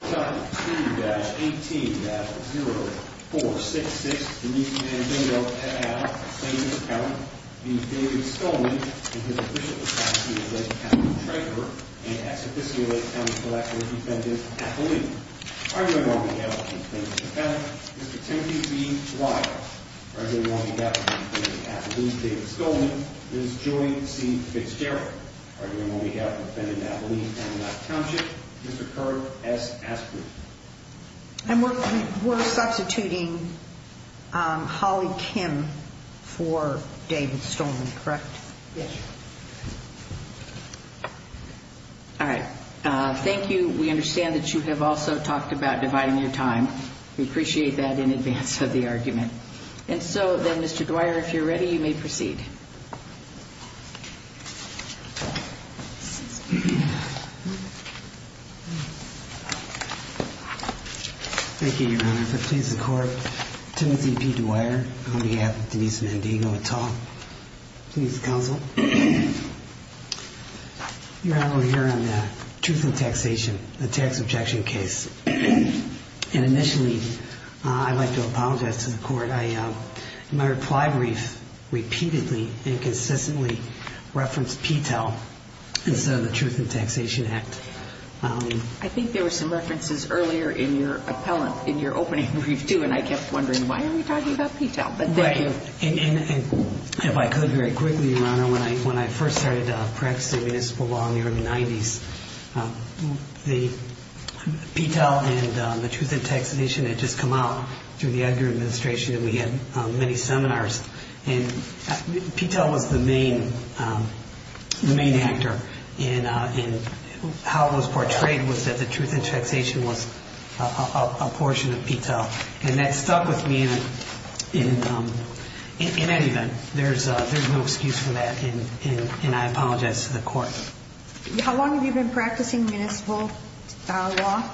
2-18-0466 Denise Mandingo, FAA, Plaintiff's Accountant v. David Stolman and his official attorney-at-law, Captain Traker and ex-officio County Collective Defendant, Appellee Arguing on behalf of the Plaintiff's Accountant, Mr. Timothy B. Wyatt Arguing on behalf of the Defendant's Appellees, David Stolman Ms. Joy C. Fitzgerald Arguing on behalf of the Defendant's Appellee, County Life Township Mr. Kurt S. Asprey And we're substituting Holly Kim for David Stolman, correct? Yes. All right. Thank you. We understand that you have also talked about dividing your time. We appreciate that in advance of the argument. And so then, Mr. Dwyer, if you're ready, you may proceed. Thank you, Your Honor. If it pleases the Court, Timothy P. Dwyer, on behalf of Denise Mandingo, at all. Please, Counsel. Your Honor, we're here on the truth in taxation, the tax objection case. And initially, I'd like to apologize to the Court. I think there were some references earlier in your appellant, in your opening brief, too. And I kept wondering, why are we talking about PTEL? But thank you. And if I could, very quickly, Your Honor, when I first started practicing municipal law in the early 90s, the PTEL and the truth in taxation had just come out through the Edgar administration. We had many seminars. And PTEL was the main actor. And how it was portrayed was that the truth in taxation was a portion of PTEL. And that stuck with me in any event. There's no excuse for that. And I apologize to the Court. How long have you been practicing municipal law?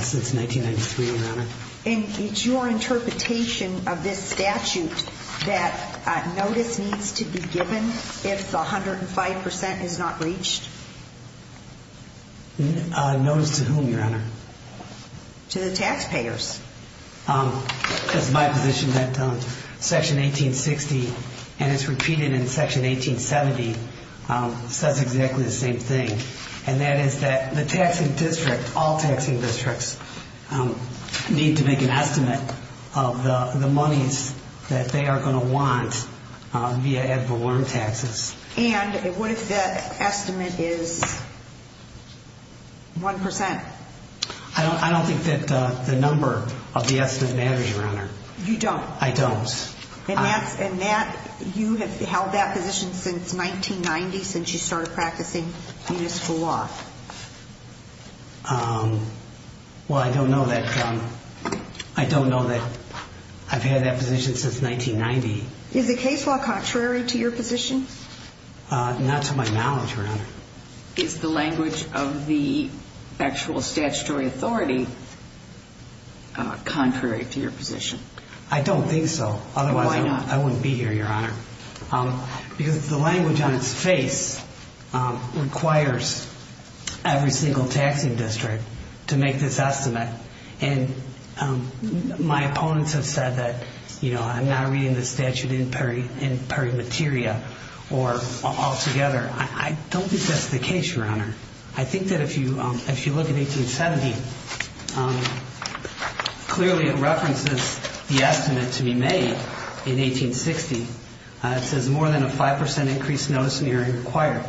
Since 1993, Your Honor. And it's your interpretation of this statute that notice needs to be given if the 105% is not reached? Notice to whom, Your Honor? To the taxpayers. It's my position that Section 1860, and it's repeated in Section 1870, says exactly the same thing. And that is that the taxing district, all taxing districts, need to make an estimate of the monies that they are going to want via ad valorem taxes. And what if the estimate is 1%? I don't think that the number of the estimate matters, Your Honor. You don't? I don't. And you have held that position since 1990, since you started practicing municipal law? Well, I don't know that I've held that position since 1990. Is the case law contrary to your position? Not to my knowledge, Your Honor. Is the language of the actual statutory authority contrary to your position? I don't think so. Otherwise, I wouldn't be here, Your Honor. Because the language on its face requires every single taxing district to make this estimate. And my opponents have said that I'm not reading the statute in per materia or altogether. I don't think that's the case, Your Honor. I think that if you look at 1870, clearly it references the estimate to be made in 1860. It says more than a 5% increase notice in the earing required.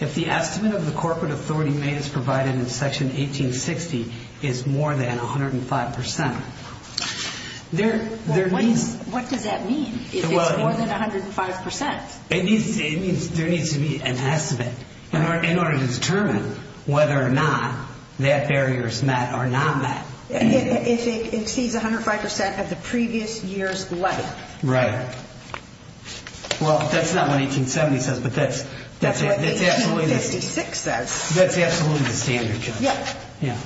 If the estimate of the corporate authority made as provided in Section 1860 is more than 105%, there needs... What does that mean, if it's more than 105%? It means there needs to be an estimate in order to determine whether or not that barrier is met or not met. If it exceeds 105% of the previous year's levy. Right. Well, that's not what 1870 says, but that's... That's what 1856 says. That's absolutely the standard, Judge. Yeah.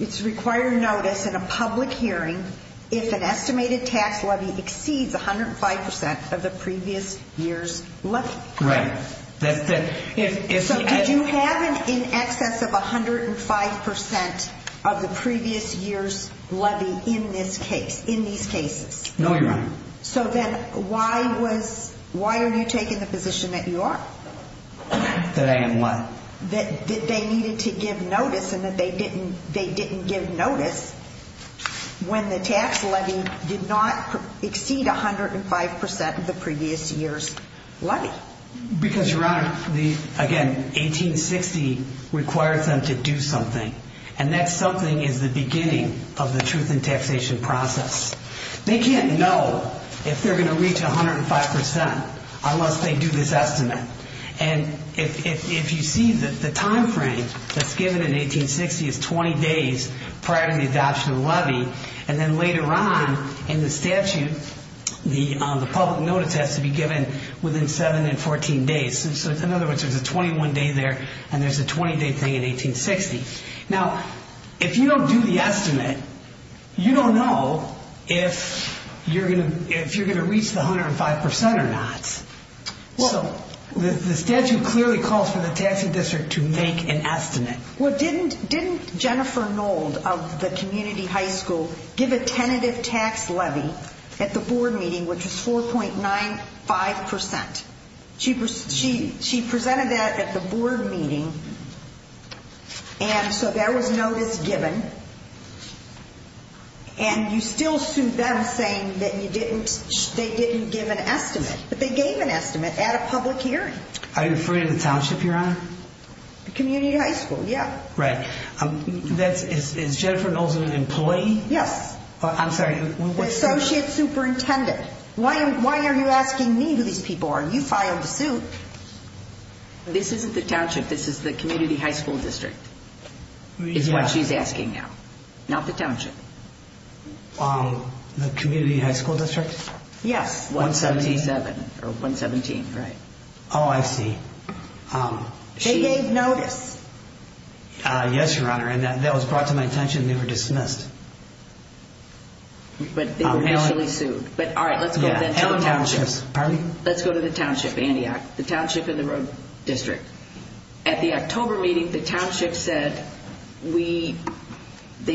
It's required notice in a public hearing if an estimated tax levy exceeds 105% of the previous year's levy. Right. So did you have in excess of 105% of the previous year's levy in this case, in these cases? No, Your Honor. So then why are you taking the position that you are? That I am what? That they needed to give notice and that they didn't give notice when the tax levy did not exceed 105% of the previous year's levy. Because, Your Honor, again, 1860 requires them to do something. And that something is the beginning of the truth in taxation process. They can't know if they're going to reach 105% unless they do this estimate. And if you see the time frame that's given in 1860 is 20 days prior to the adoption of the levy. And then later on in the statute, the public notice has to be given within 7 and 14 days. So in other words, there's a 21 day there and there's a 20 day thing in 1860. Now, if you don't do the estimate, you don't know if you're going to reach the 105% or not. Well, the statute clearly calls for the taxing district to make an estimate. Well, didn't Jennifer Nold of the community high school give a tentative tax levy at the board meeting which was 4.95%? She presented that at the board meeting. And so there was notice given. And you still sued them saying that they didn't give an estimate. But they gave an estimate at a public hearing. Are you referring to the township, Your Honor? The community high school, yeah. Right. Is Jennifer Nold an employee? Yes. I'm sorry. The associate superintendent. Why are you asking me who these people are? You filed a suit. This isn't the township. This is the community high school district. It's what she's asking now. Not the township. The community high school district? Yes. 177, or 117, right. Oh, I see. They gave notice. Yes, Your Honor, and that was brought to my attention and they were dismissed. But they were initially sued. But all right, let's go to the township. Pardon me? Let's go to the township, the township of the road district. At the October meeting, the township said they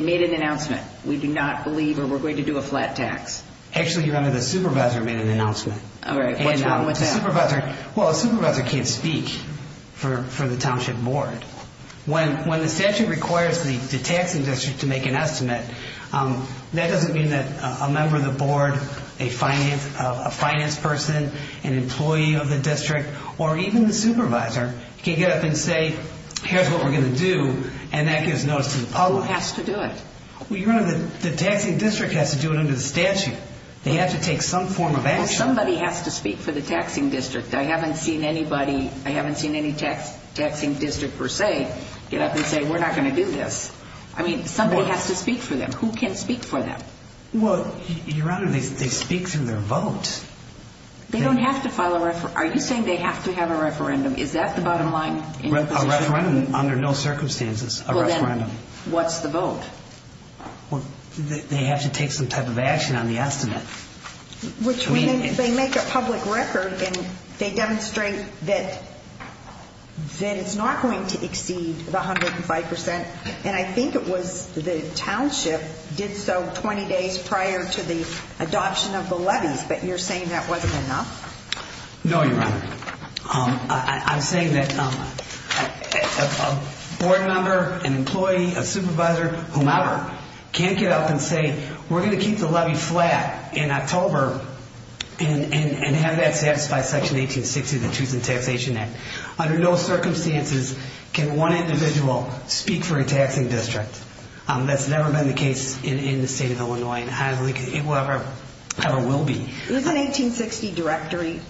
made an announcement. We do not believe, or we're going to do a flat tax. Actually, Your Honor, the supervisor made an announcement. All right, what's wrong with that? Well, a supervisor can't speak for the township board. When the statute requires the taxing district to make an estimate, that doesn't mean that a member of the board, a finance person, an employee of the district, or even the supervisor, can get up and say, here's what we're going to do, and that gives notice to the public. Who has to do it? Well, Your Honor, the taxing district has to do it under the statute. They have to take some form of action. Well, somebody has to speak for the taxing district. I haven't seen anybody, I haven't seen any taxing district, per se, get up and say, we're not going to do this. I mean, somebody has to speak for them. Who can speak for them? Well, Your Honor, they speak through their vote. They don't have to file a referendum. Are you saying they have to have a referendum? Is that the bottom line in your position? A referendum under no circumstances. Well, then, what's the vote? Well, they have to take some type of action on the estimate. Which means they make a public record, and they demonstrate that it's not going to exceed the 105%, and I think it was the township did so 20 days prior to the adoption of the levies, but you're saying that wasn't enough? No, Your Honor. I'm saying that a board member, an employee, a supervisor, whomever, can't get up and say, we're going to keep the levy flat in October and have that satisfy Section 1860 of the Choosing Taxation Act. Under no circumstances can one individual speak for a taxing district. That's never been the case in the state of Illinois, and it never will be. Isn't 1860 directory?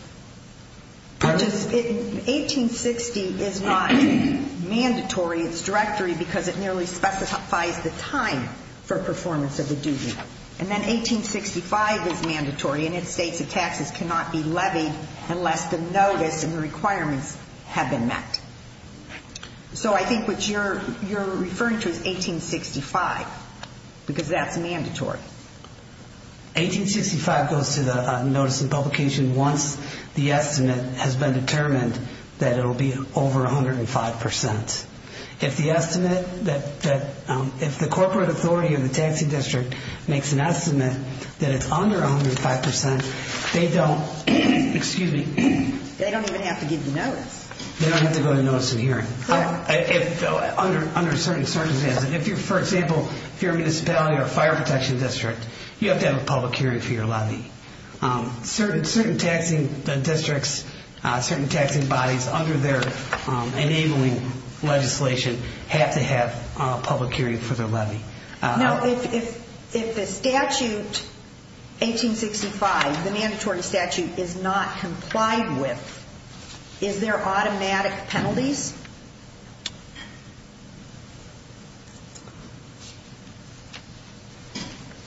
1860 is not mandatory. It's directory because it merely specifies the time for performance of the duty. And then 1865 is mandatory, and it states that taxes cannot be levied unless the notice and the requirements have been met. So I think what you're referring to is 1865, because that's mandatory. 1865 goes to the notice and publication once the estimate has been determined that it will be over 105%. If the estimate that, if the corporate authority of the taxing district makes an estimate that it's under 105%, they don't, excuse me. They don't even have to give the notice. They don't have to go to notice and hearing. Under certain circumstances. For example, if you're a municipality or a fire protection district, you have to have a public hearing for your levy. Certain taxing districts, certain taxing bodies under their enabling legislation have to have a public hearing for their levy. Now, if the statute 1865, the mandatory statute, is not complied with, is there automatic penalties?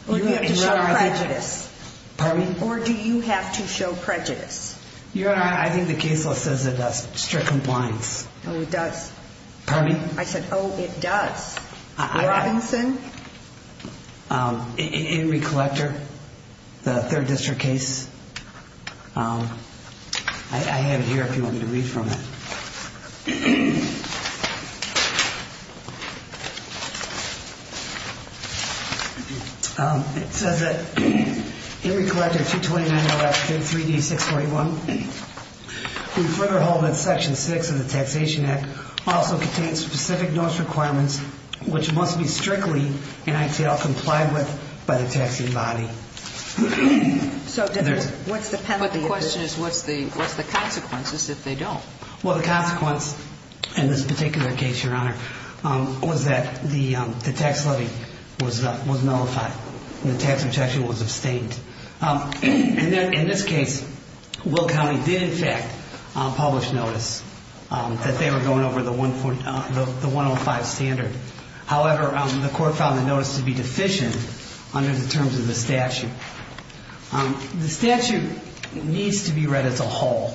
Or do you have to show prejudice? Pardon me? Or do you have to show prejudice? Your Honor, I think the case law says it does strict compliance. Oh, it does? Pardon me? I said, oh, it does. Robinson? In recollector. The third district case. I have it here if you want me to read from it. It says that, in recollector 229.3D641, we further hold that section 6 of the Taxation Act also contains specific notice requirements which must be strictly, in ITL, complied with by the taxing body. So, what's the penalty? But the question is, what's the consequences if they don't? Well, the consequence, in this particular case, Your Honor, was that the tax levy was nullified. The tax protection was abstained. In this case, Will County did, in fact, publish notice that they were going over the 105 standard. However, the court found the notice to be deficient under the terms of the statute. The statute needs to be read as a whole.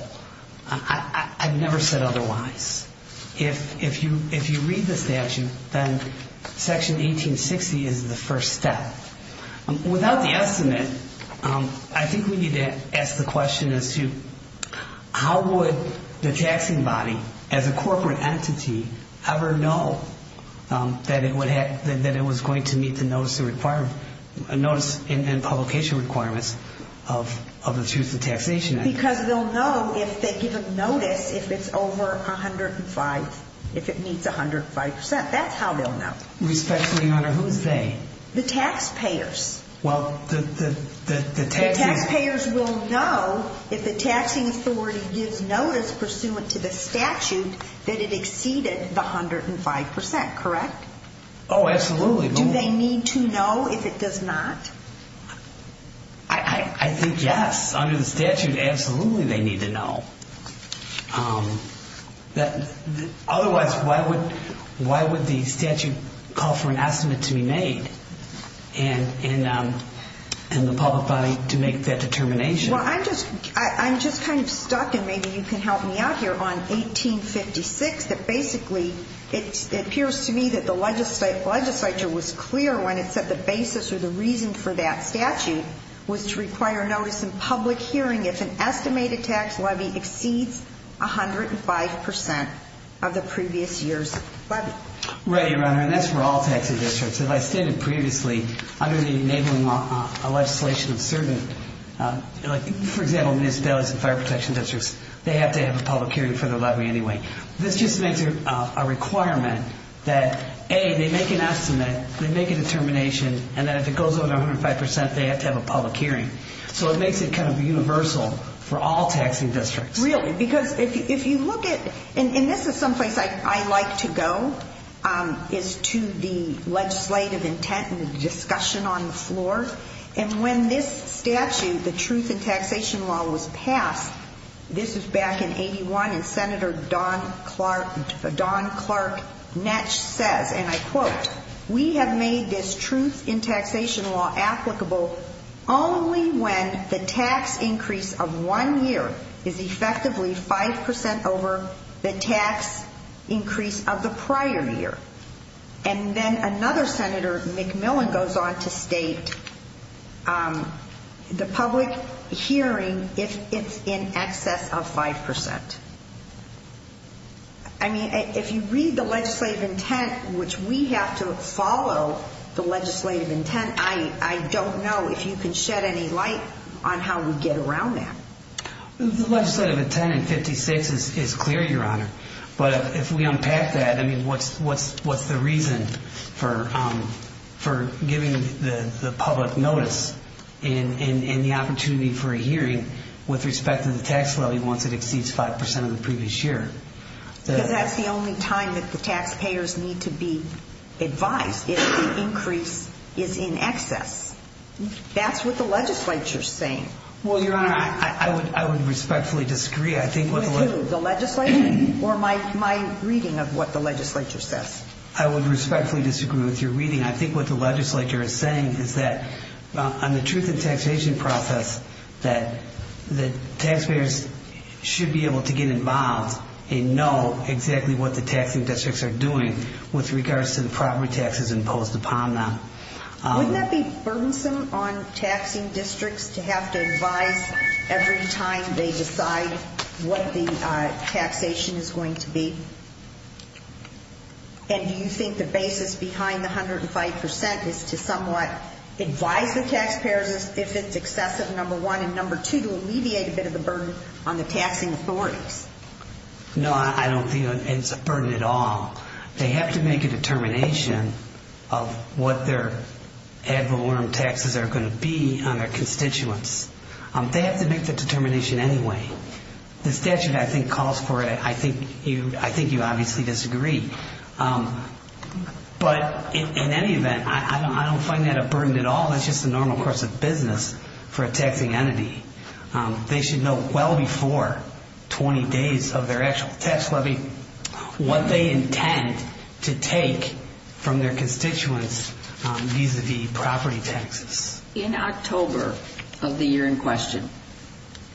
I've never said otherwise. If you read the statute, then Section 1860 is the first step. Without the estimate, I think we need to ask the question as to how would the taxing body, as a corporate entity, ever know that it was going to meet the notice and publication requirements of the Truth in Taxation Act? Because they'll know if they give a notice if it's over 105, if it meets 105%. That's how they'll know. Respectfully, Your Honor, who's they? The taxpayers. The taxpayers will know if the taxing authority gives notice pursuant to the statute that it exceeded the 105%. Correct? Oh, absolutely. Do they need to know if it does not? I think, yes. Under the statute, absolutely, they need to know. Otherwise, why would the statute call for an estimate to be made in the public body to make that determination? Well, I'm just kind of stuck and maybe you can help me out here on 1856 that basically it appears to me that the legislature was clear when it set the basis or the reason for that statute was to require notice and public hearing if an estimated tax levy exceeds 105% of the previous year's levy. Right, Your Honor. And that's for all taxing districts. As I stated previously, under the enabling legislation of certain, for example, municipalities and fire protection districts, they have to have a public hearing for their levy anyway. This just makes it a requirement that, A, they make an estimate, they make a determination, and then if it goes over 105%, they have to have a public hearing. So it makes it kind of universal for all taxing districts. Really, because if you look at, and this is someplace I like to go, is to the legislative intent and the discussion on the floor. And when this statute, the truth in taxation law, was passed, this was back in 81, and Senator Don Clark Netsch says, and I quote, we have made this truth in taxation law applicable only when the tax increase of one year is effectively 5% over the tax increase of the prior year. And then another Senator, McMillan, goes on to state the public hearing if it's in excess of 5%. I mean, if you read the legislative intent which we have to follow the legislative intent, I don't know if you can shed any light on how we get around that. The legislative intent in 56 is clear, Your Honor. But if we unpack that, what's the reason for giving the public notice and the opportunity for a hearing with respect to the tax levy once it exceeds 5% of the previous year? Because that's the only time that the taxpayers need to be advised if the increase is in excess. That's what the legislature is saying. Well, Your Honor, I would respectfully disagree. With who, the legislature or my reading of what the legislature says? I would respectfully disagree with your reading. I think what the legislature is saying is that on the truth in taxation process that taxpayers should be able to get involved and know exactly what the taxing districts are doing with regards to the property taxes imposed upon them. Wouldn't that be burdensome on taxing districts to have to advise every time they decide what the taxation is going to be? And do you think the basis behind the 105% is to somewhat advise the taxpayers if it's excessive, number one, and number two, to alleviate a bit of the burden on the taxing authorities? No, I don't think it's a burden at all. They have to make a determination of what their ad valorem taxes are going to be on their constituents. They have to make the determination anyway. The statute, I think, calls for it. I think you obviously disagree. But in any event, I don't find that a burden at all. That's just the normal course of business for a taxing entity. They should know well before 20 days of their actual tax levy what they intend to take from their constituents vis-a-vis property taxes. In October of the year in question,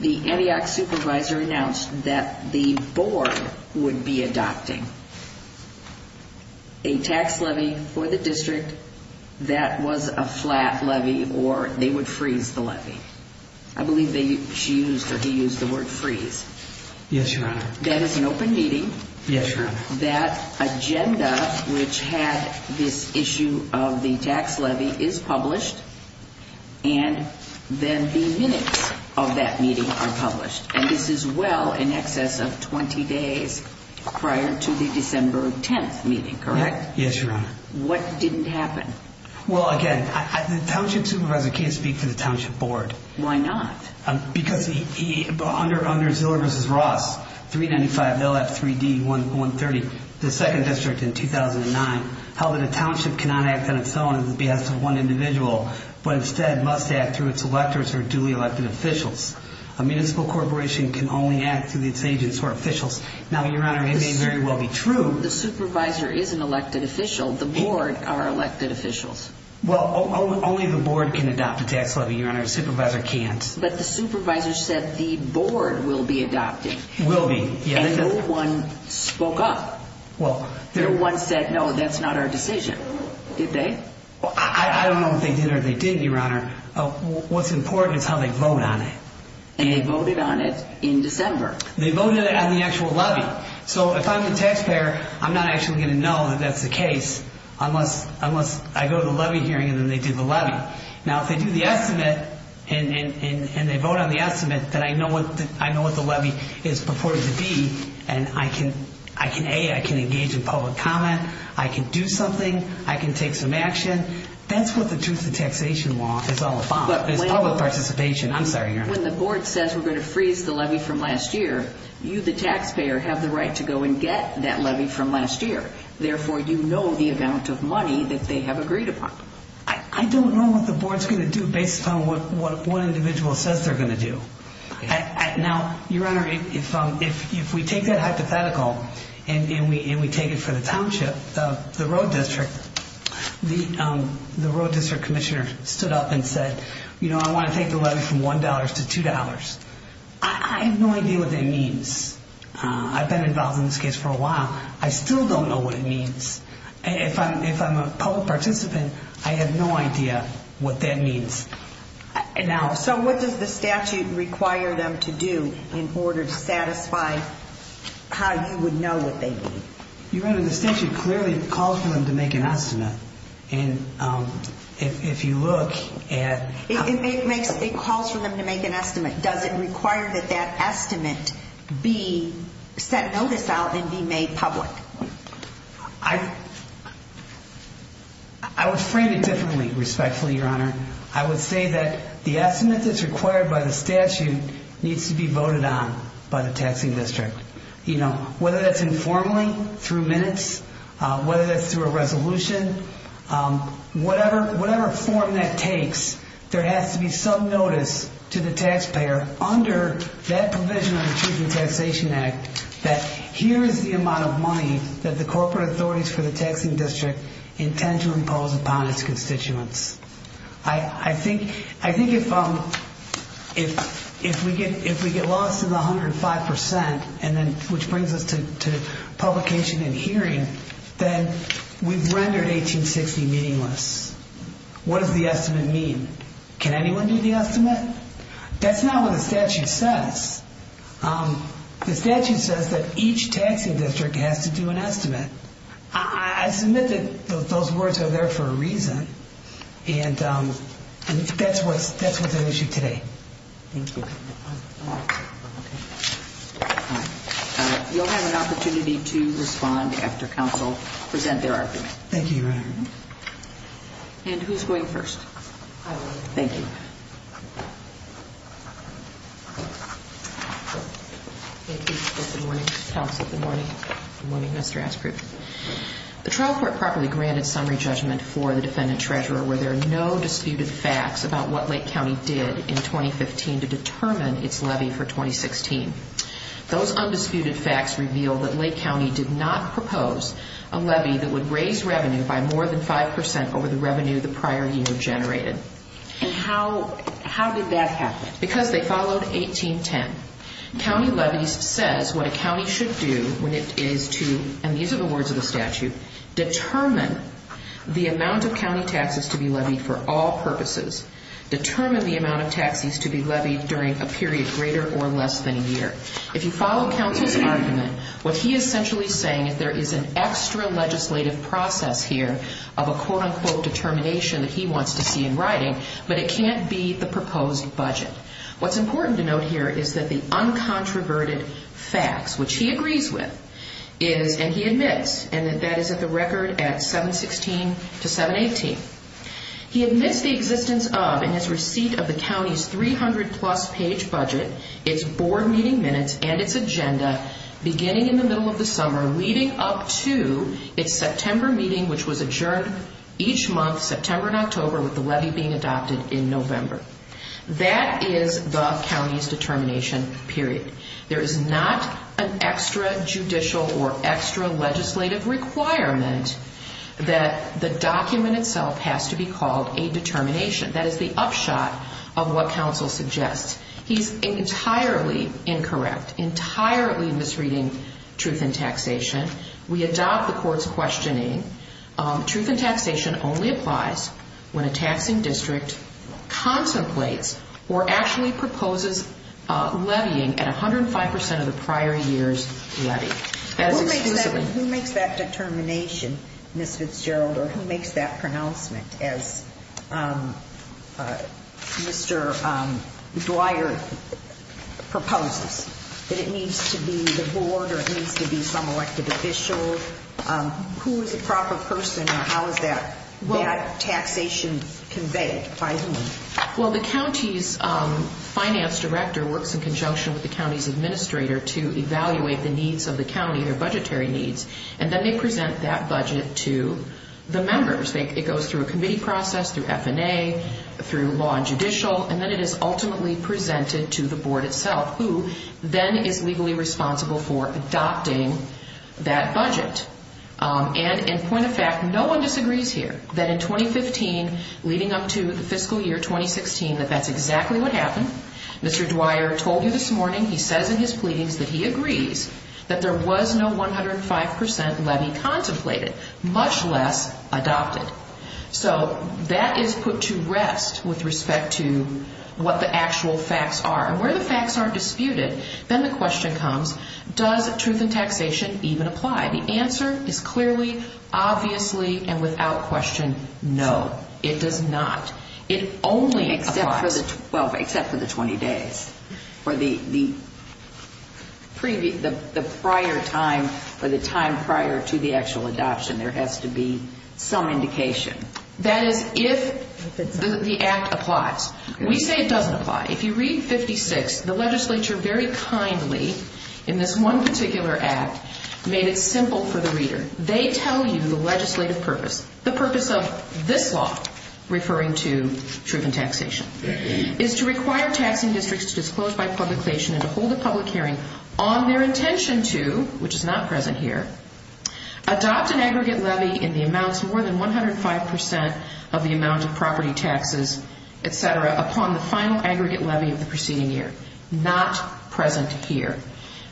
the Antioch supervisor announced that the board would be adopting a tax levy for the district that was a flat levy or they would freeze the levy. I believe she used or he used the word freeze. That is an open meeting. That agenda which had this issue of the tax levy is published and then the minutes of that meeting are published. And this is well in excess of 20 days prior to the December 10th meeting, correct? What didn't happen? Well, again, the township supervisor can't speak for the township board. Why not? Under Ziller v. Ross 395 LF 3D 130 the second district in 2009 held that a township cannot act on its own at the behest of one individual but instead must act through its electors or duly elected officials. A municipal corporation can only act through its agents or officials. Now, Your Honor, it may very well be true The supervisor is an elected official. The board are elected officials. Well, only the board can adopt a tax levy, Your Honor. The supervisor can't. But the supervisor said the board will be adopted. And no one spoke up. No one said, no, that's not our decision. Did they? I don't know if they did or they didn't, Your Honor. What's important is how they vote on it. And they voted on it in December. They voted on the actual levy. So if I'm the taxpayer, I'm not actually going to know that that's the case unless I go to the levy hearing and then they do the levy. Now, if they do the estimate and they vote on the estimate that I know what the levy is purported to be and I can, A, I can engage in public comment, I can do something, I can take some action, that's what the Truth in Taxation law is all about. I'm sorry, Your Honor. When the board says we're going to freeze the levy from last year, you, the taxpayer, have the right to go and get that levy from last year. Therefore, you know the amount of money that they have agreed upon. I don't know what the board's going to do based on what one individual says they're going to do. Now, Your Honor, if we take that hypothetical and we take it for the township, the road district, the road district commissioner stood up and said, I want to take the levy from $1 to $2. I have no idea what that means. I've been involved in this case for a while. I still don't know what it means. If I'm a public participant, I have no idea what that means. Now, so what does the statute require them to do in order to satisfy how you would know what they need? Your Honor, the statute clearly calls for them to make an estimate and if you look at... It calls for them to make an estimate. Does it require that that estimate be set notice out and be made public? I... I would frame it differently respectfully, Your Honor. I would say that the estimate that's required by the statute needs to be voted on by the taxing district. You know, whether that's informally through minutes, whether that's through a resolution, whatever form that takes, there has to be some notice to the taxpayer under that provision of the Truth in Taxation Act that here is the amount of money that the corporate authorities for the taxing district intend to impose upon its constituents. I think if we get lost in the 105%, which brings us to publication and hearing, then we've rendered 1860 meaningless. What does the estimate mean? Can anyone do the estimate? That's not what the statute says. The statute says that each taxing district has to do an estimate. I submit that those words are there for a reason and that's what's at issue today. Thank you. You'll have an opportunity to respond after counsel present their argument. Thank you, Your Honor. And who's going first? I will. Thank you. Thank you. Good morning, counsel. Good morning, Mr. Ashcroft. The trial court properly granted summary judgment for the defendant-treasurer where there are no disputed facts about what Lake County did in 2015 to determine its levy for 2016. Those undisputed facts reveal that Lake County did not propose a levy that would raise revenue by more than 5% over the revenue the prior year generated. How did that happen? Because they followed 1810. County levies says what a county should do when it is to and these are the words of the statute determine the amount of county taxes to be levied for all purposes. Determine the amount of taxes to be levied during a period greater or less than a year. If you follow counsel's argument, what he is essentially saying is there is an extra legislative process here of a quote-unquote determination that he wants to see in writing but it can't be the proposed budget. What's important to note here is that the uncontroverted facts which he agrees with and he admits and that is at the record at 716-718 he admits the existence of in his receipt of the county's 300-plus page budget its board meeting minutes and its agenda beginning in the middle of the summer leading up to its September meeting which was adjourned each month September and October with the levy being adopted in November. That is the county's determination period. There is not an extra judicial or extra legislative requirement that the document itself has to be called a determination. That is the upshot of what counsel suggests. He's entirely incorrect, entirely misreading truth in taxation. We adopt the court's questioning truth in taxation only applies when a taxing district contemplates or actually proposes levying at 105% of the prior year's levy. Who makes that determination Ms. Fitzgerald or who makes that pronouncement as Mr. Dwyer proposes? That it needs to be the board or it needs to be some elected official? Who is a proper person and how is that taxation conveyed? Well, the county's finance director works in conjunction with the county's administrator to evaluate the needs of the county, their budgetary needs and then they present that budget to the members. It goes through a committee process, through F&A, through law and judicial and then it is ultimately presented to the board itself who then is legally responsible for adopting that budget. And in point of fact, no one disagrees here that in 2015 leading up to the fiscal year 2016 that that's exactly what happened. Mr. Dwyer told you this morning, he says in his pleadings that he agrees that there was no 105% levy contemplated much less adopted. So that is put to rest with respect to what the actual facts are. And where the facts aren't disputed, then the question comes, does truth in taxation even apply? The answer is clearly, obviously and without question, no. It does not. It only applies. Except for the 20 days. Or the prior time or the time prior to the actual adoption. There has to be some indication. That is if the act applies. We say it doesn't apply. If you read 56, the legislature very kindly in this one particular act made it simple for the reader. They tell you the legislative purpose. The purpose of this law, referring to truth in taxation, is to require taxing districts to disclose by publication and to hold a public hearing on their intention to, which is not present here, adopt an aggregate levy in the amounts more than 105% of the amount of property taxes, etc., upon the final aggregate levy of the preceding year. Not present here.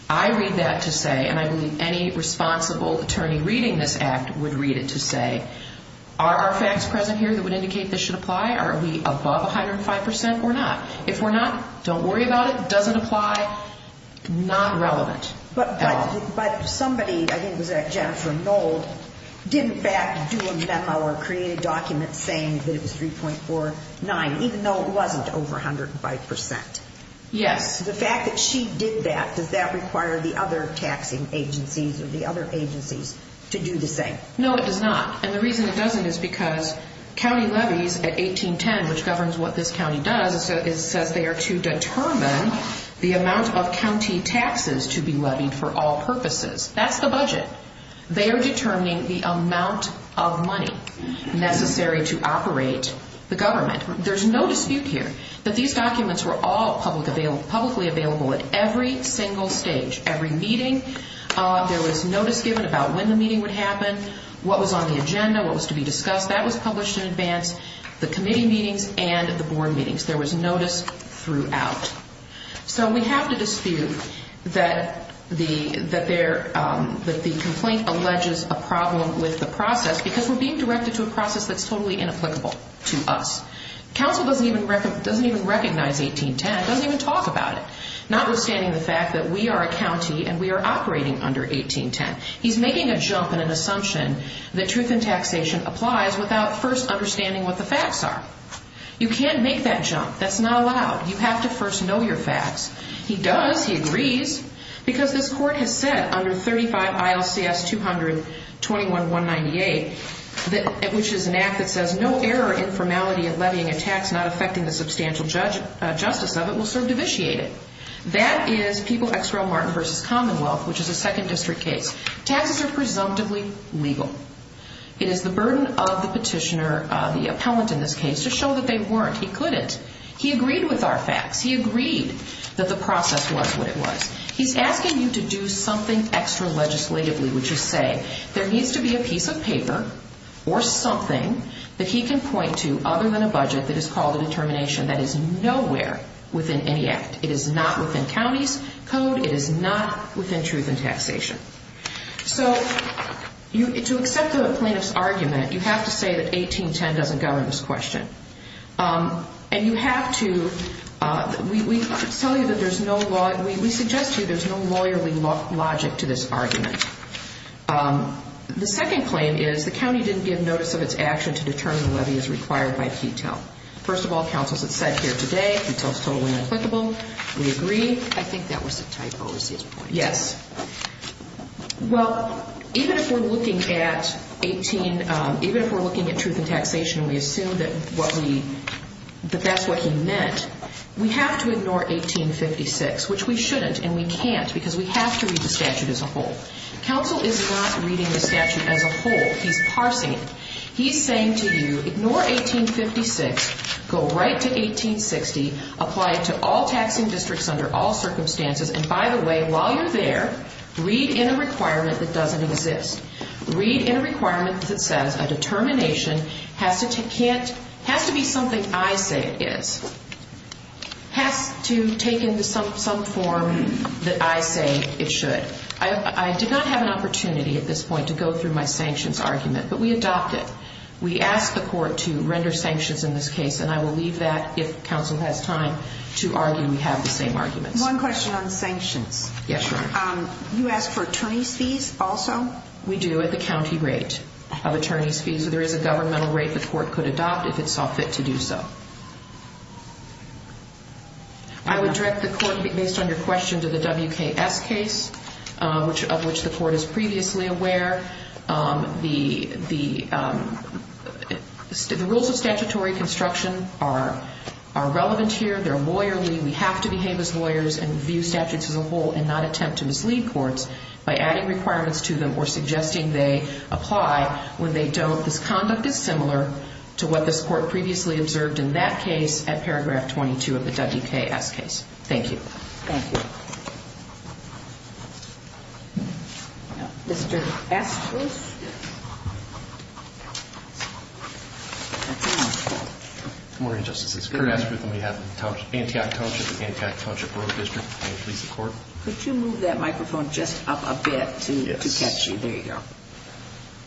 I read that to say and I believe any responsible attorney reading this act would read it to say, are our facts present here that would indicate this should apply? Are we above 105% or not? If we're not, don't worry about it. Does it matter? It's irrelevant. But somebody, I think it was Jennifer Nold, didn't back do a memo or create a document saying that it was 3.49 even though it wasn't over 105%. Yes. The fact that she did that, does that require the other taxing agencies or the other agencies to do the same? No, it does not. And the reason it doesn't is because county levies at 1810, which governs what this county does, it says they are to determine the amount of county taxes to be levied for all purposes. That's the budget. They are determining the amount of money necessary to operate the government. There's no dispute here that these documents were all publicly available at every single stage. Every meeting, there was notice given about when the meeting would happen, what was on the agenda, what was to be discussed. That was published in advance. The committee meetings and the board meetings. There was notice throughout. So we have to dispute that the complaint alleges a problem with the process because we're being directed to a process that's totally inapplicable to us. Council doesn't even recognize 1810, doesn't even talk about it. Notwithstanding the fact that we are a county and we are operating under 1810. He's making a jump in an assumption that truth in taxation applies without first understanding what the facts are. You can't make that jump. That's not allowed. You have to first know your facts. He does. He agrees. Because this court has said under 35 ILCS 200 21198 which is an act that says no error or informality of levying a tax not affecting the substantial justice of it will serve to vitiate it. That is People X Roe Martin v. Commonwealth which is a second district case. Taxes are presumptively legal. It is the burden of the petitioner, the appellant in this case, to show that they weren't. He couldn't. He agreed with our facts. He agreed that the process was what it was. He's asking you to do something extra legislatively which is say there needs to be a piece of paper or something that he can point to other than a budget that is called a determination that is nowhere within any act. It is not within county's code. It is not within truth in taxation. So to accept the plaintiff's claim, you have to say that 1810 doesn't govern this question. And you have to we tell you that there's no we suggest to you there's no lawyerly logic to this argument. The second claim is the county didn't give notice of its action to determine the levy as required by Ketel. First of all, counsel, as it's said here today Ketel is totally applicable. We agree. I think that was a typo is his point. Yes. Well, even if we're looking at 18 even if we're looking at truth in taxation we assume that that's what he meant. We have to ignore 1856 which we shouldn't and we can't because we have to read the statute as a whole. Counsel is not reading the statute as a whole. He's parsing it. He's saying to you ignore 1856 go right to 1860 apply it to all taxing districts under all circumstances and by the way while you're there read in a requirement that doesn't exist. Read in a requirement that says a determination has to be something I say it is. Has to take into some form that I say it should. I did not have an opportunity at this point to go through my sanctions argument but we adopted it. We asked the court to render sanctions in this case and I will leave that if counsel has time to argue we have the same arguments. One question on You ask for attorney's fees also? We do at the county rate of attorney's fees. There is a governmental rate the court could adopt if it saw fit to do so. I would direct the court based on your question to the WKS case of which the court is previously aware the rules of statutory construction are relevant here. They're lawyerly. We have to behave as lawyers and view the court by adding requirements to them or suggesting they apply when they don't. This conduct is similar to what this court previously observed in that case at paragraph 22 of the WKS case. Thank you. Thank you. Mr. Estworth? Good morning Justice. It's Kurt Estworth on behalf of Antioch Township and the Antioch Township Borough District. Could you move that microphone just up a bit to catch you? There you go.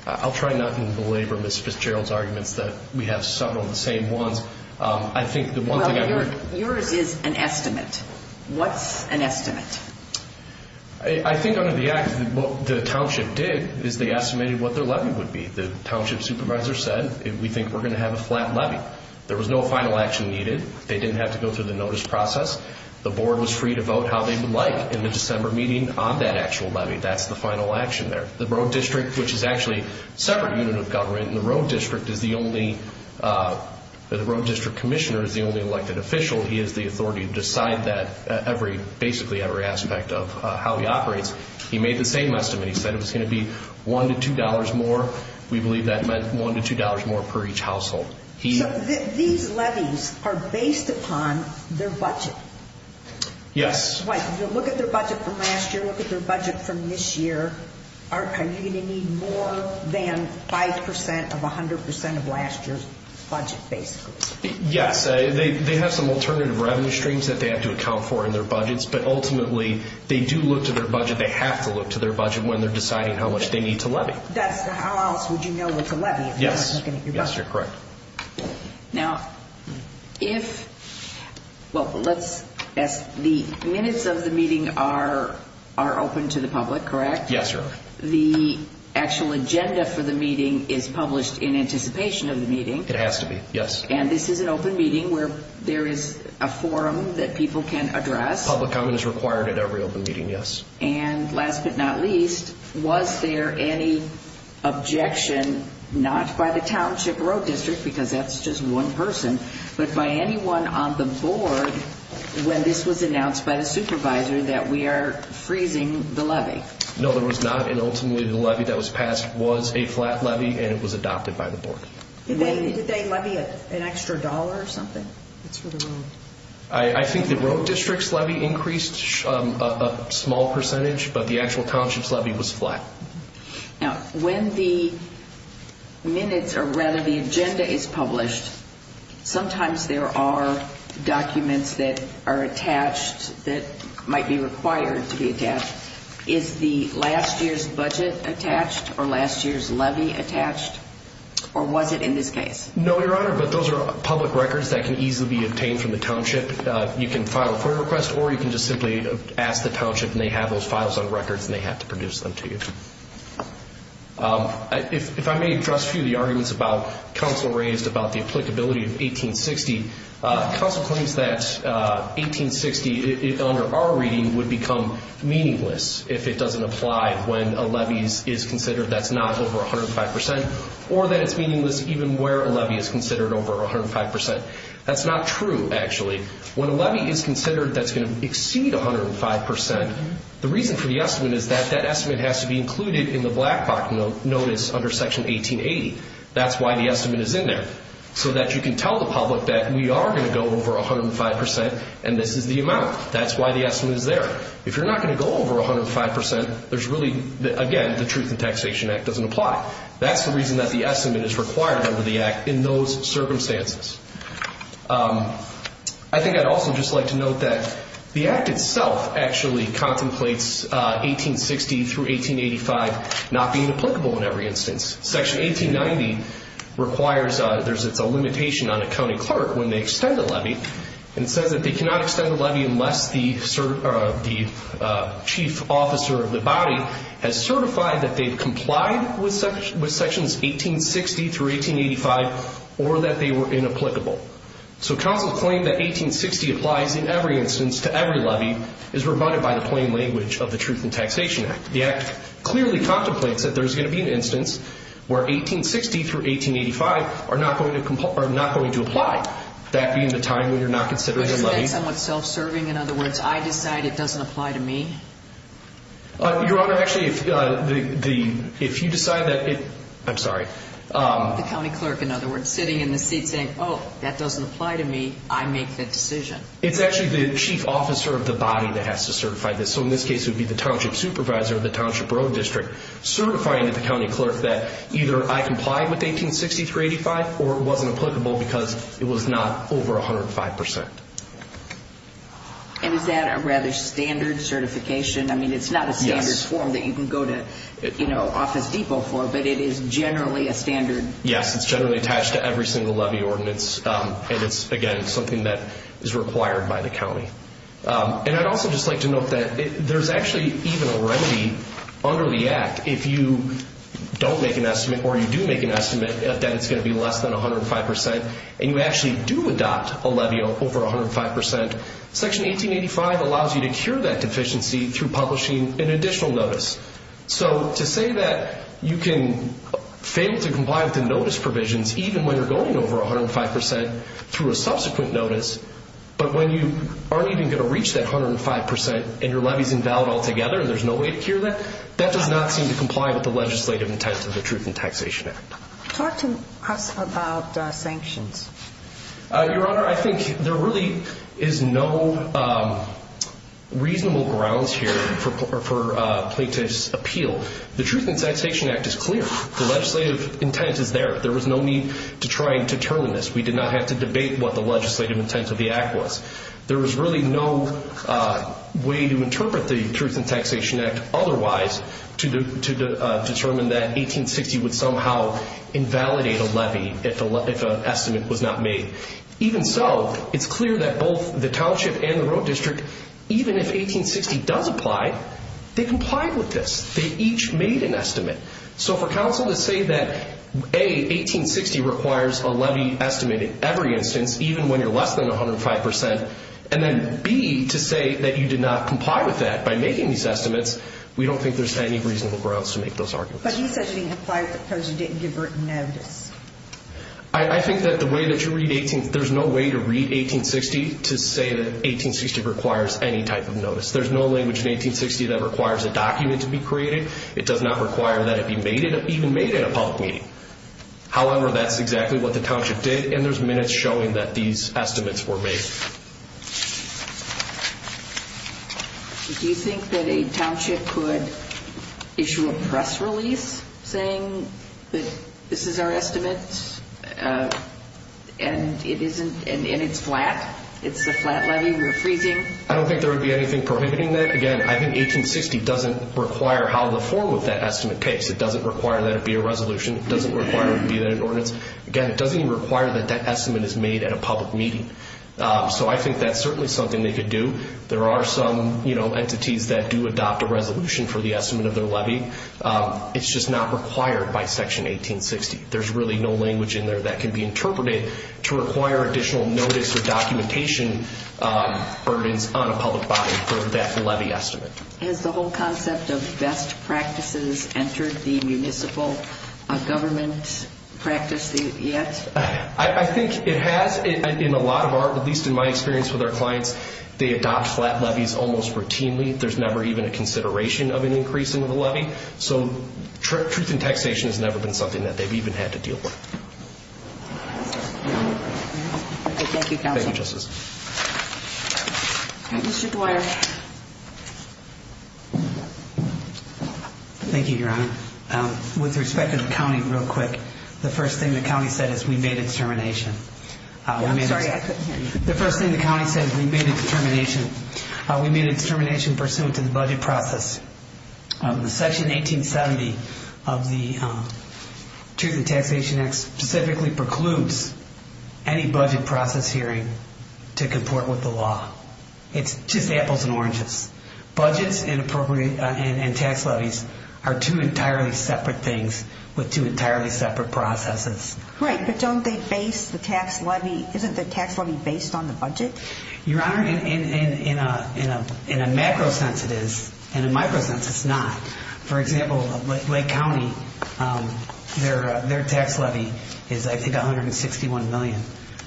I'll try not to belabor Ms. Fitzgerald's arguments that we have several of the same ones. Yours is an estimate. What's an estimate? I think what the township did is they estimated what their levy would be. The township supervisor said we think we're going to have a flat levy. There was no final action needed. They didn't have to go through the notice process. The board was free to vote how they would like in the December meeting on that actual levy. That's the final action there. The Borough District, which is actually a separate unit of government, and the Borough District is the only the Borough District Commissioner is the only elected official. He has the authority to decide basically every aspect of how he operates. He made the same estimate. He said it was going to be $1 to $2 more. We believe that meant $1 to $2 more per each household. These levies are based upon their budget. Yes. If you look at their budget from last year, look at their budget from this year, are you going to need more than 5% of 100% of last year's budget, basically? Yes. They have some alternative revenue streams that they have to account for in their budgets, but ultimately they do look to their budget. They have to look to their budget when they're deciding how much they need to levy. How else would you know what to levy if you're not looking at your budget? Yes, you're correct. The minutes of the meeting are open to the public, correct? Yes, sir. The actual agenda for the meeting is published in anticipation of the meeting. It has to be, yes. This is an open meeting where there is a forum that people can address. Public comment is required at every open meeting, yes. Last but not least, was there any objection, not by the Township Road District, because that's just one person, but by anyone on the Board when this was announced by the Supervisor that we are freezing the levy? No, there was not, and ultimately the levy that was passed was a flat levy and it was adopted by the Board. Did they levy an extra dollar or something? I think the Road District's levy increased a small percentage, but the actual Township's levy was flat. When the minutes or rather the agenda is published, sometimes there are documents that are attached that might be required to be attached. Is the last year's budget attached or last year's levy attached, or was it in this case? No, Your Honor, but those are public records that can easily be obtained from the Township. You can file a FOIA request or you can just simply ask the Township and they have those files on record and they have to produce them to you. If I may address a few of the arguments about counsel raised about the applicability of 1860, counsel claims that 1860 under our reading would become meaningless if it doesn't apply when a levy is considered that's not over 105%, or that it's meaningless even where a levy is considered over 105%. That's not true, actually. When a levy is considered that's going to exceed 105%, the reason for the estimate is that that estimate has to be included in the Black Box Notice under Section 1880. That's why the estimate is in there, so that you can tell the public that we are going to go over 105% and this is the amount. That's why the estimate is there. If you're not going to go over 105%, there's really, again, the Truth in Taxation Act doesn't apply. That's the reason that the estimate is required under the Act in those circumstances. I think I'd also just like to note that the Act itself actually contemplates 1860 through 1885 not being applicable in every instance. Section 1890 requires there's a limitation on a county clerk when they extend a levy and says that they cannot extend a levy unless the chief officer of the body has certified that they've complied with Sections 1860 through 1885 or that they were inapplicable. So counsel's claim that 1860 applies in every instance to every levy is rebutted by the plain language of the Truth in Taxation Act. The Act clearly contemplates that there's going to be an instance where 1860 through 1885 are not going to apply, that being the time when you're not considering a levy. Is that somewhat self-serving? In other words, I decide it doesn't apply to me? Your Honor, actually if you decide that it, I'm sorry, the county clerk, in other words, sitting in the seat saying, oh, that doesn't apply to me, I make the decision. It's actually the chief officer of the body that has to certify this. So in this case, it would be the township supervisor of the Township Road District certifying to the county clerk that either I complied with 1860 through 1885 or it wasn't applicable because it was not over 105%. And is that a rather standard certification? I mean, it's not a standard form that you can go to Office Depot for, but it is generally a standard. Yes, it's generally attached to every single levy ordinance and it's, again, something that is required by the county. And I'd also just like to note that there's actually even a remedy under the Act. If you don't make an estimate or you do make an estimate that it's going to be less than 105% and you actually do adopt a levy over 105%, Section 1885 allows you to cure that deficiency through publishing an additional notice. So to say that you can fail to comply with the notice provisions even when you're going over 105% through a subsequent notice, but when you aren't even going to reach that 105% and your levy's invalid altogether and there's no way to cure that, that does not seem to comply with the legislative intent of the Truth in Taxation Act. Talk to us about sanctions. Your Honor, I think there really is no reasonable grounds here for plaintiff's appeal. The Truth in Taxation Act is clear. The legislative intent is there. There was no need to try and determine this. We did not have to debate what the legislative intent of the Act was. There was really no way to interpret the Truth in Taxation Act otherwise to determine that 1860 would somehow invalidate a levy if an estimate was not made. Even so, it's clear that both the Township and the Road District even if 1860 does apply, they complied with this. They each made an estimate. So for counsel to say that A, 1860 requires a levy estimate at every instance, even when you're less than 105%, and then B, to say that you did not comply with that by making these estimates, we don't think there's any reasonable grounds to make those arguments. But he said it didn't apply because you didn't give her a notice. I think that the way that you read 1860, there's no way to read 1860 to say that 1860 requires any type of notice. There's no language in 1860 that requires a document to be created. It does not require that it be even made at a public meeting. However, that's exactly what the Township did, and there's minutes showing that these estimates were made. Do you think that a Township could issue a press release saying that this is our estimate and it's flat? It's a flat levy? We're freezing? I don't think there would be anything prohibiting that. Again, I think 1860 doesn't require how to form with that estimate case. It doesn't require that it be a resolution. It doesn't require it be an ordinance. Again, it doesn't even require that that estimate is made at a public meeting. So I think that's certainly something they could do. There are some entities that do adopt a resolution for the estimate of their levy. It's just not required by Section 1860. There's really no language in there that can be interpreted to require additional notice or documentation burdens on a public body for that levy estimate. Has the whole concept of best practices entered the municipal government practice yet? I think it has in a lot of our, at least in my experience with our clients, they adopt flat levies almost routinely. There's never even a consideration of an increase in the levy. Truth in taxation has never been something that they've even had to deal with. Thank you, Counselor. Thank you, Your Honor. With respect to the county, real quick, the first thing the county said is we made it to termination. The first thing the county said is we made it to termination. We made it to termination pursuant to the budget process. Section 1870 of the Truth in Taxation Act specifically precludes any budget process hearing to comport with the law. It's just apples and oranges. Budgets and tax levies are two entirely separate things with two entirely separate processes. Right, but don't they base the tax levy, isn't the tax levy based on the budget? Your Honor, in a macro sense it is. In a micro sense, it's not. For example, Lake County, their tax levy is, I think, $161 million.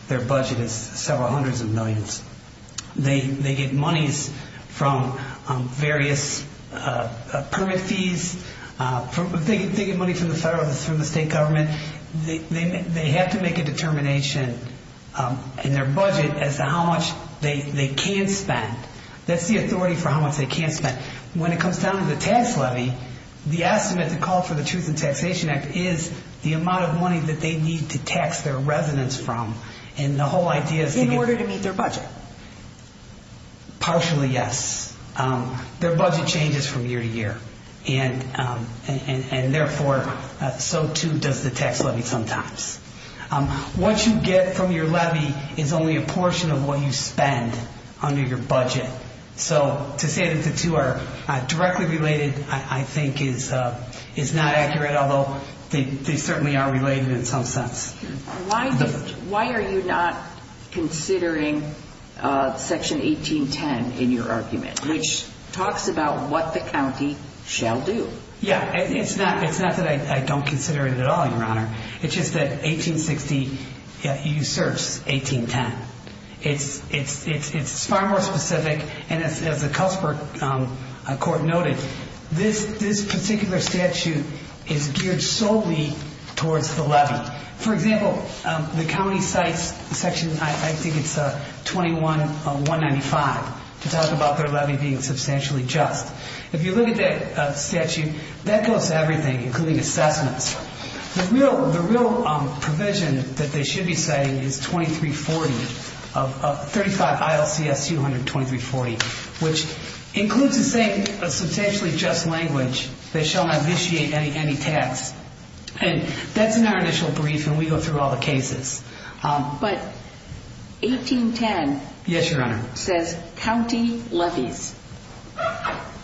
Their budget is several hundreds of millions. They get monies from various permit fees. They get money from the state government. They have to make a determination in their budget as to how much they can spend. That's the authority for how much they can spend. With the tax levy, the estimate to call for the Truth in Taxation Act is the amount of money that they need to tax their residents from. The whole idea is to get... In order to meet their budget. Partially, yes. Their budget changes from year to year. Therefore, so too does the tax levy sometimes. What you get from your levy is only a portion of what you spend under your budget. To say that the two are directly related, I think, is not accurate, although they certainly are related in some sense. Why are you not considering Section 1810 in your argument, which talks about what the county shall do? It's not that I don't consider it at all, Your Honor. It's just that 1860 usurps 1810. It's far more specific, and as the Cultsburg Court noted, this particular statute is geared solely towards the levy. For example, the county cites Section, I think it's 21-195 to talk about their levy being substantially just. If you look at that statute, that goes to everything, including assessments. The real provision that they should be citing is 2340, 35 ILCS 200-2340, which includes a saying, a substantially just language, they shall not initiate any tax. That's in our initial brief, and we go through all the cases. But 1810 says county levies.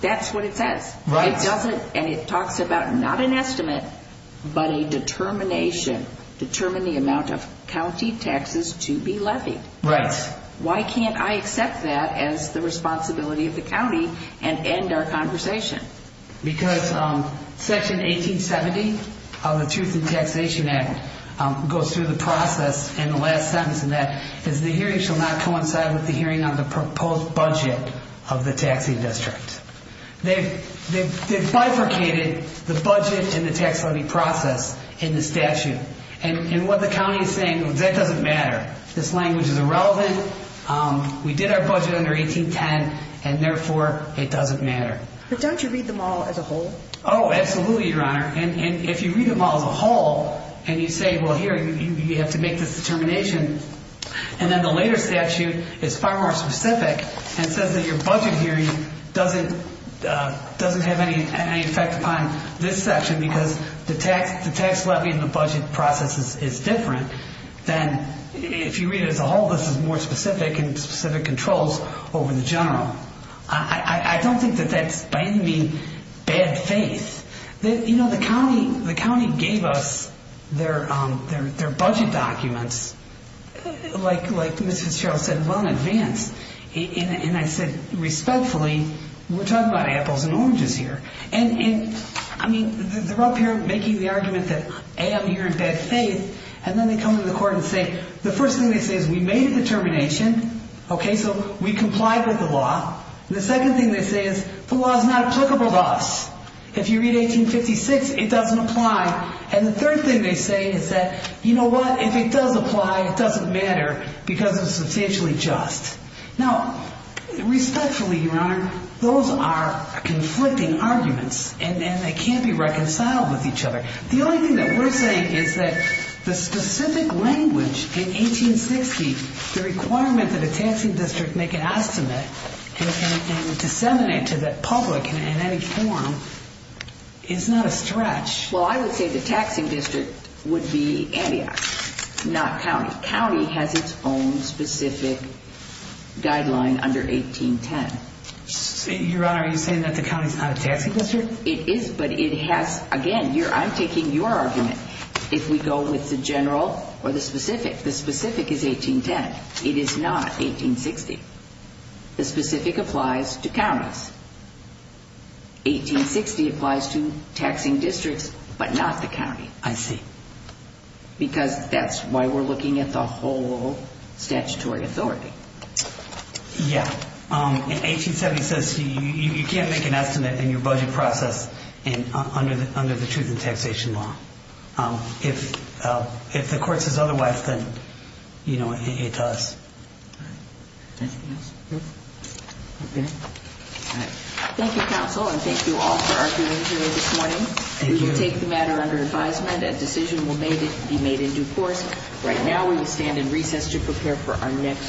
That's what it says. It talks about not an estimate, but a determination, determine the amount of county taxes to be levied. Why can't I accept that as the responsibility of the county and end our conversation? Because Section 1870 of the Truth in Taxation Act goes through the process in the last sentence, and that is the hearing shall not coincide with the hearing on the proposed budget of the taxing district. They've bifurcated the budget and the tax levy process in the statute. And what the county is saying, that doesn't matter. This language is irrelevant. We did our budget under 1810, and therefore it doesn't matter. But don't you read them all as a whole? Oh, absolutely, Your Honor. And if you read them all as a whole and you say, well, here, you have to make this determination, and then the later statute is far more specific and says that your budget hearing doesn't have any effect upon this section because the tax levy and the budget process is different than if you read it as a whole, this is more specific and specific controls over the general. I don't think that that's, by any means, bad faith. You know, the county gave us their budget documents like Mrs. Sherrill said well in advance. And I said, respectfully, we're talking about apples and oranges here. And they're up here making the argument that A, I'm here in bad faith, and then they come to the court and say, the first thing they say is we made a determination, okay, so we complied with the law. The second thing they say is the law is not applicable to us. If you read 1856, it doesn't apply. And the third thing they say is that, you know what, if it does apply, it doesn't matter because it's substantially just. Now, respectfully, Your Honor, those are conflicting arguments, and they can't be reconciled with each other. The only thing that we're saying is that the specific language in 1860, the requirement that a taxing district make an estimate and disseminate to the public in any form is not a stretch. Well, I would say the taxing district would be Antioch, not county. County has its own specific guideline under 1810. Your Honor, are you saying that the county is not a taxing district? It is, but it has again, I'm taking your argument. If we go with the general or the specific, the specific is 1810. It is not 1860. The specific applies to counties. 1860 applies to taxing districts, but not the county. I see. Because that's why we're looking at the whole statutory authority. Yeah. 1870 says you can't make an estimate in your budget process under the Truth in Taxation Law. If the court says otherwise, then it does. Thank you, counsel, and thank you all for arguing here this morning. We will take the matter under advisement. A decision will be made in due course. Right now, we stand in recess to prepare for our next hearing.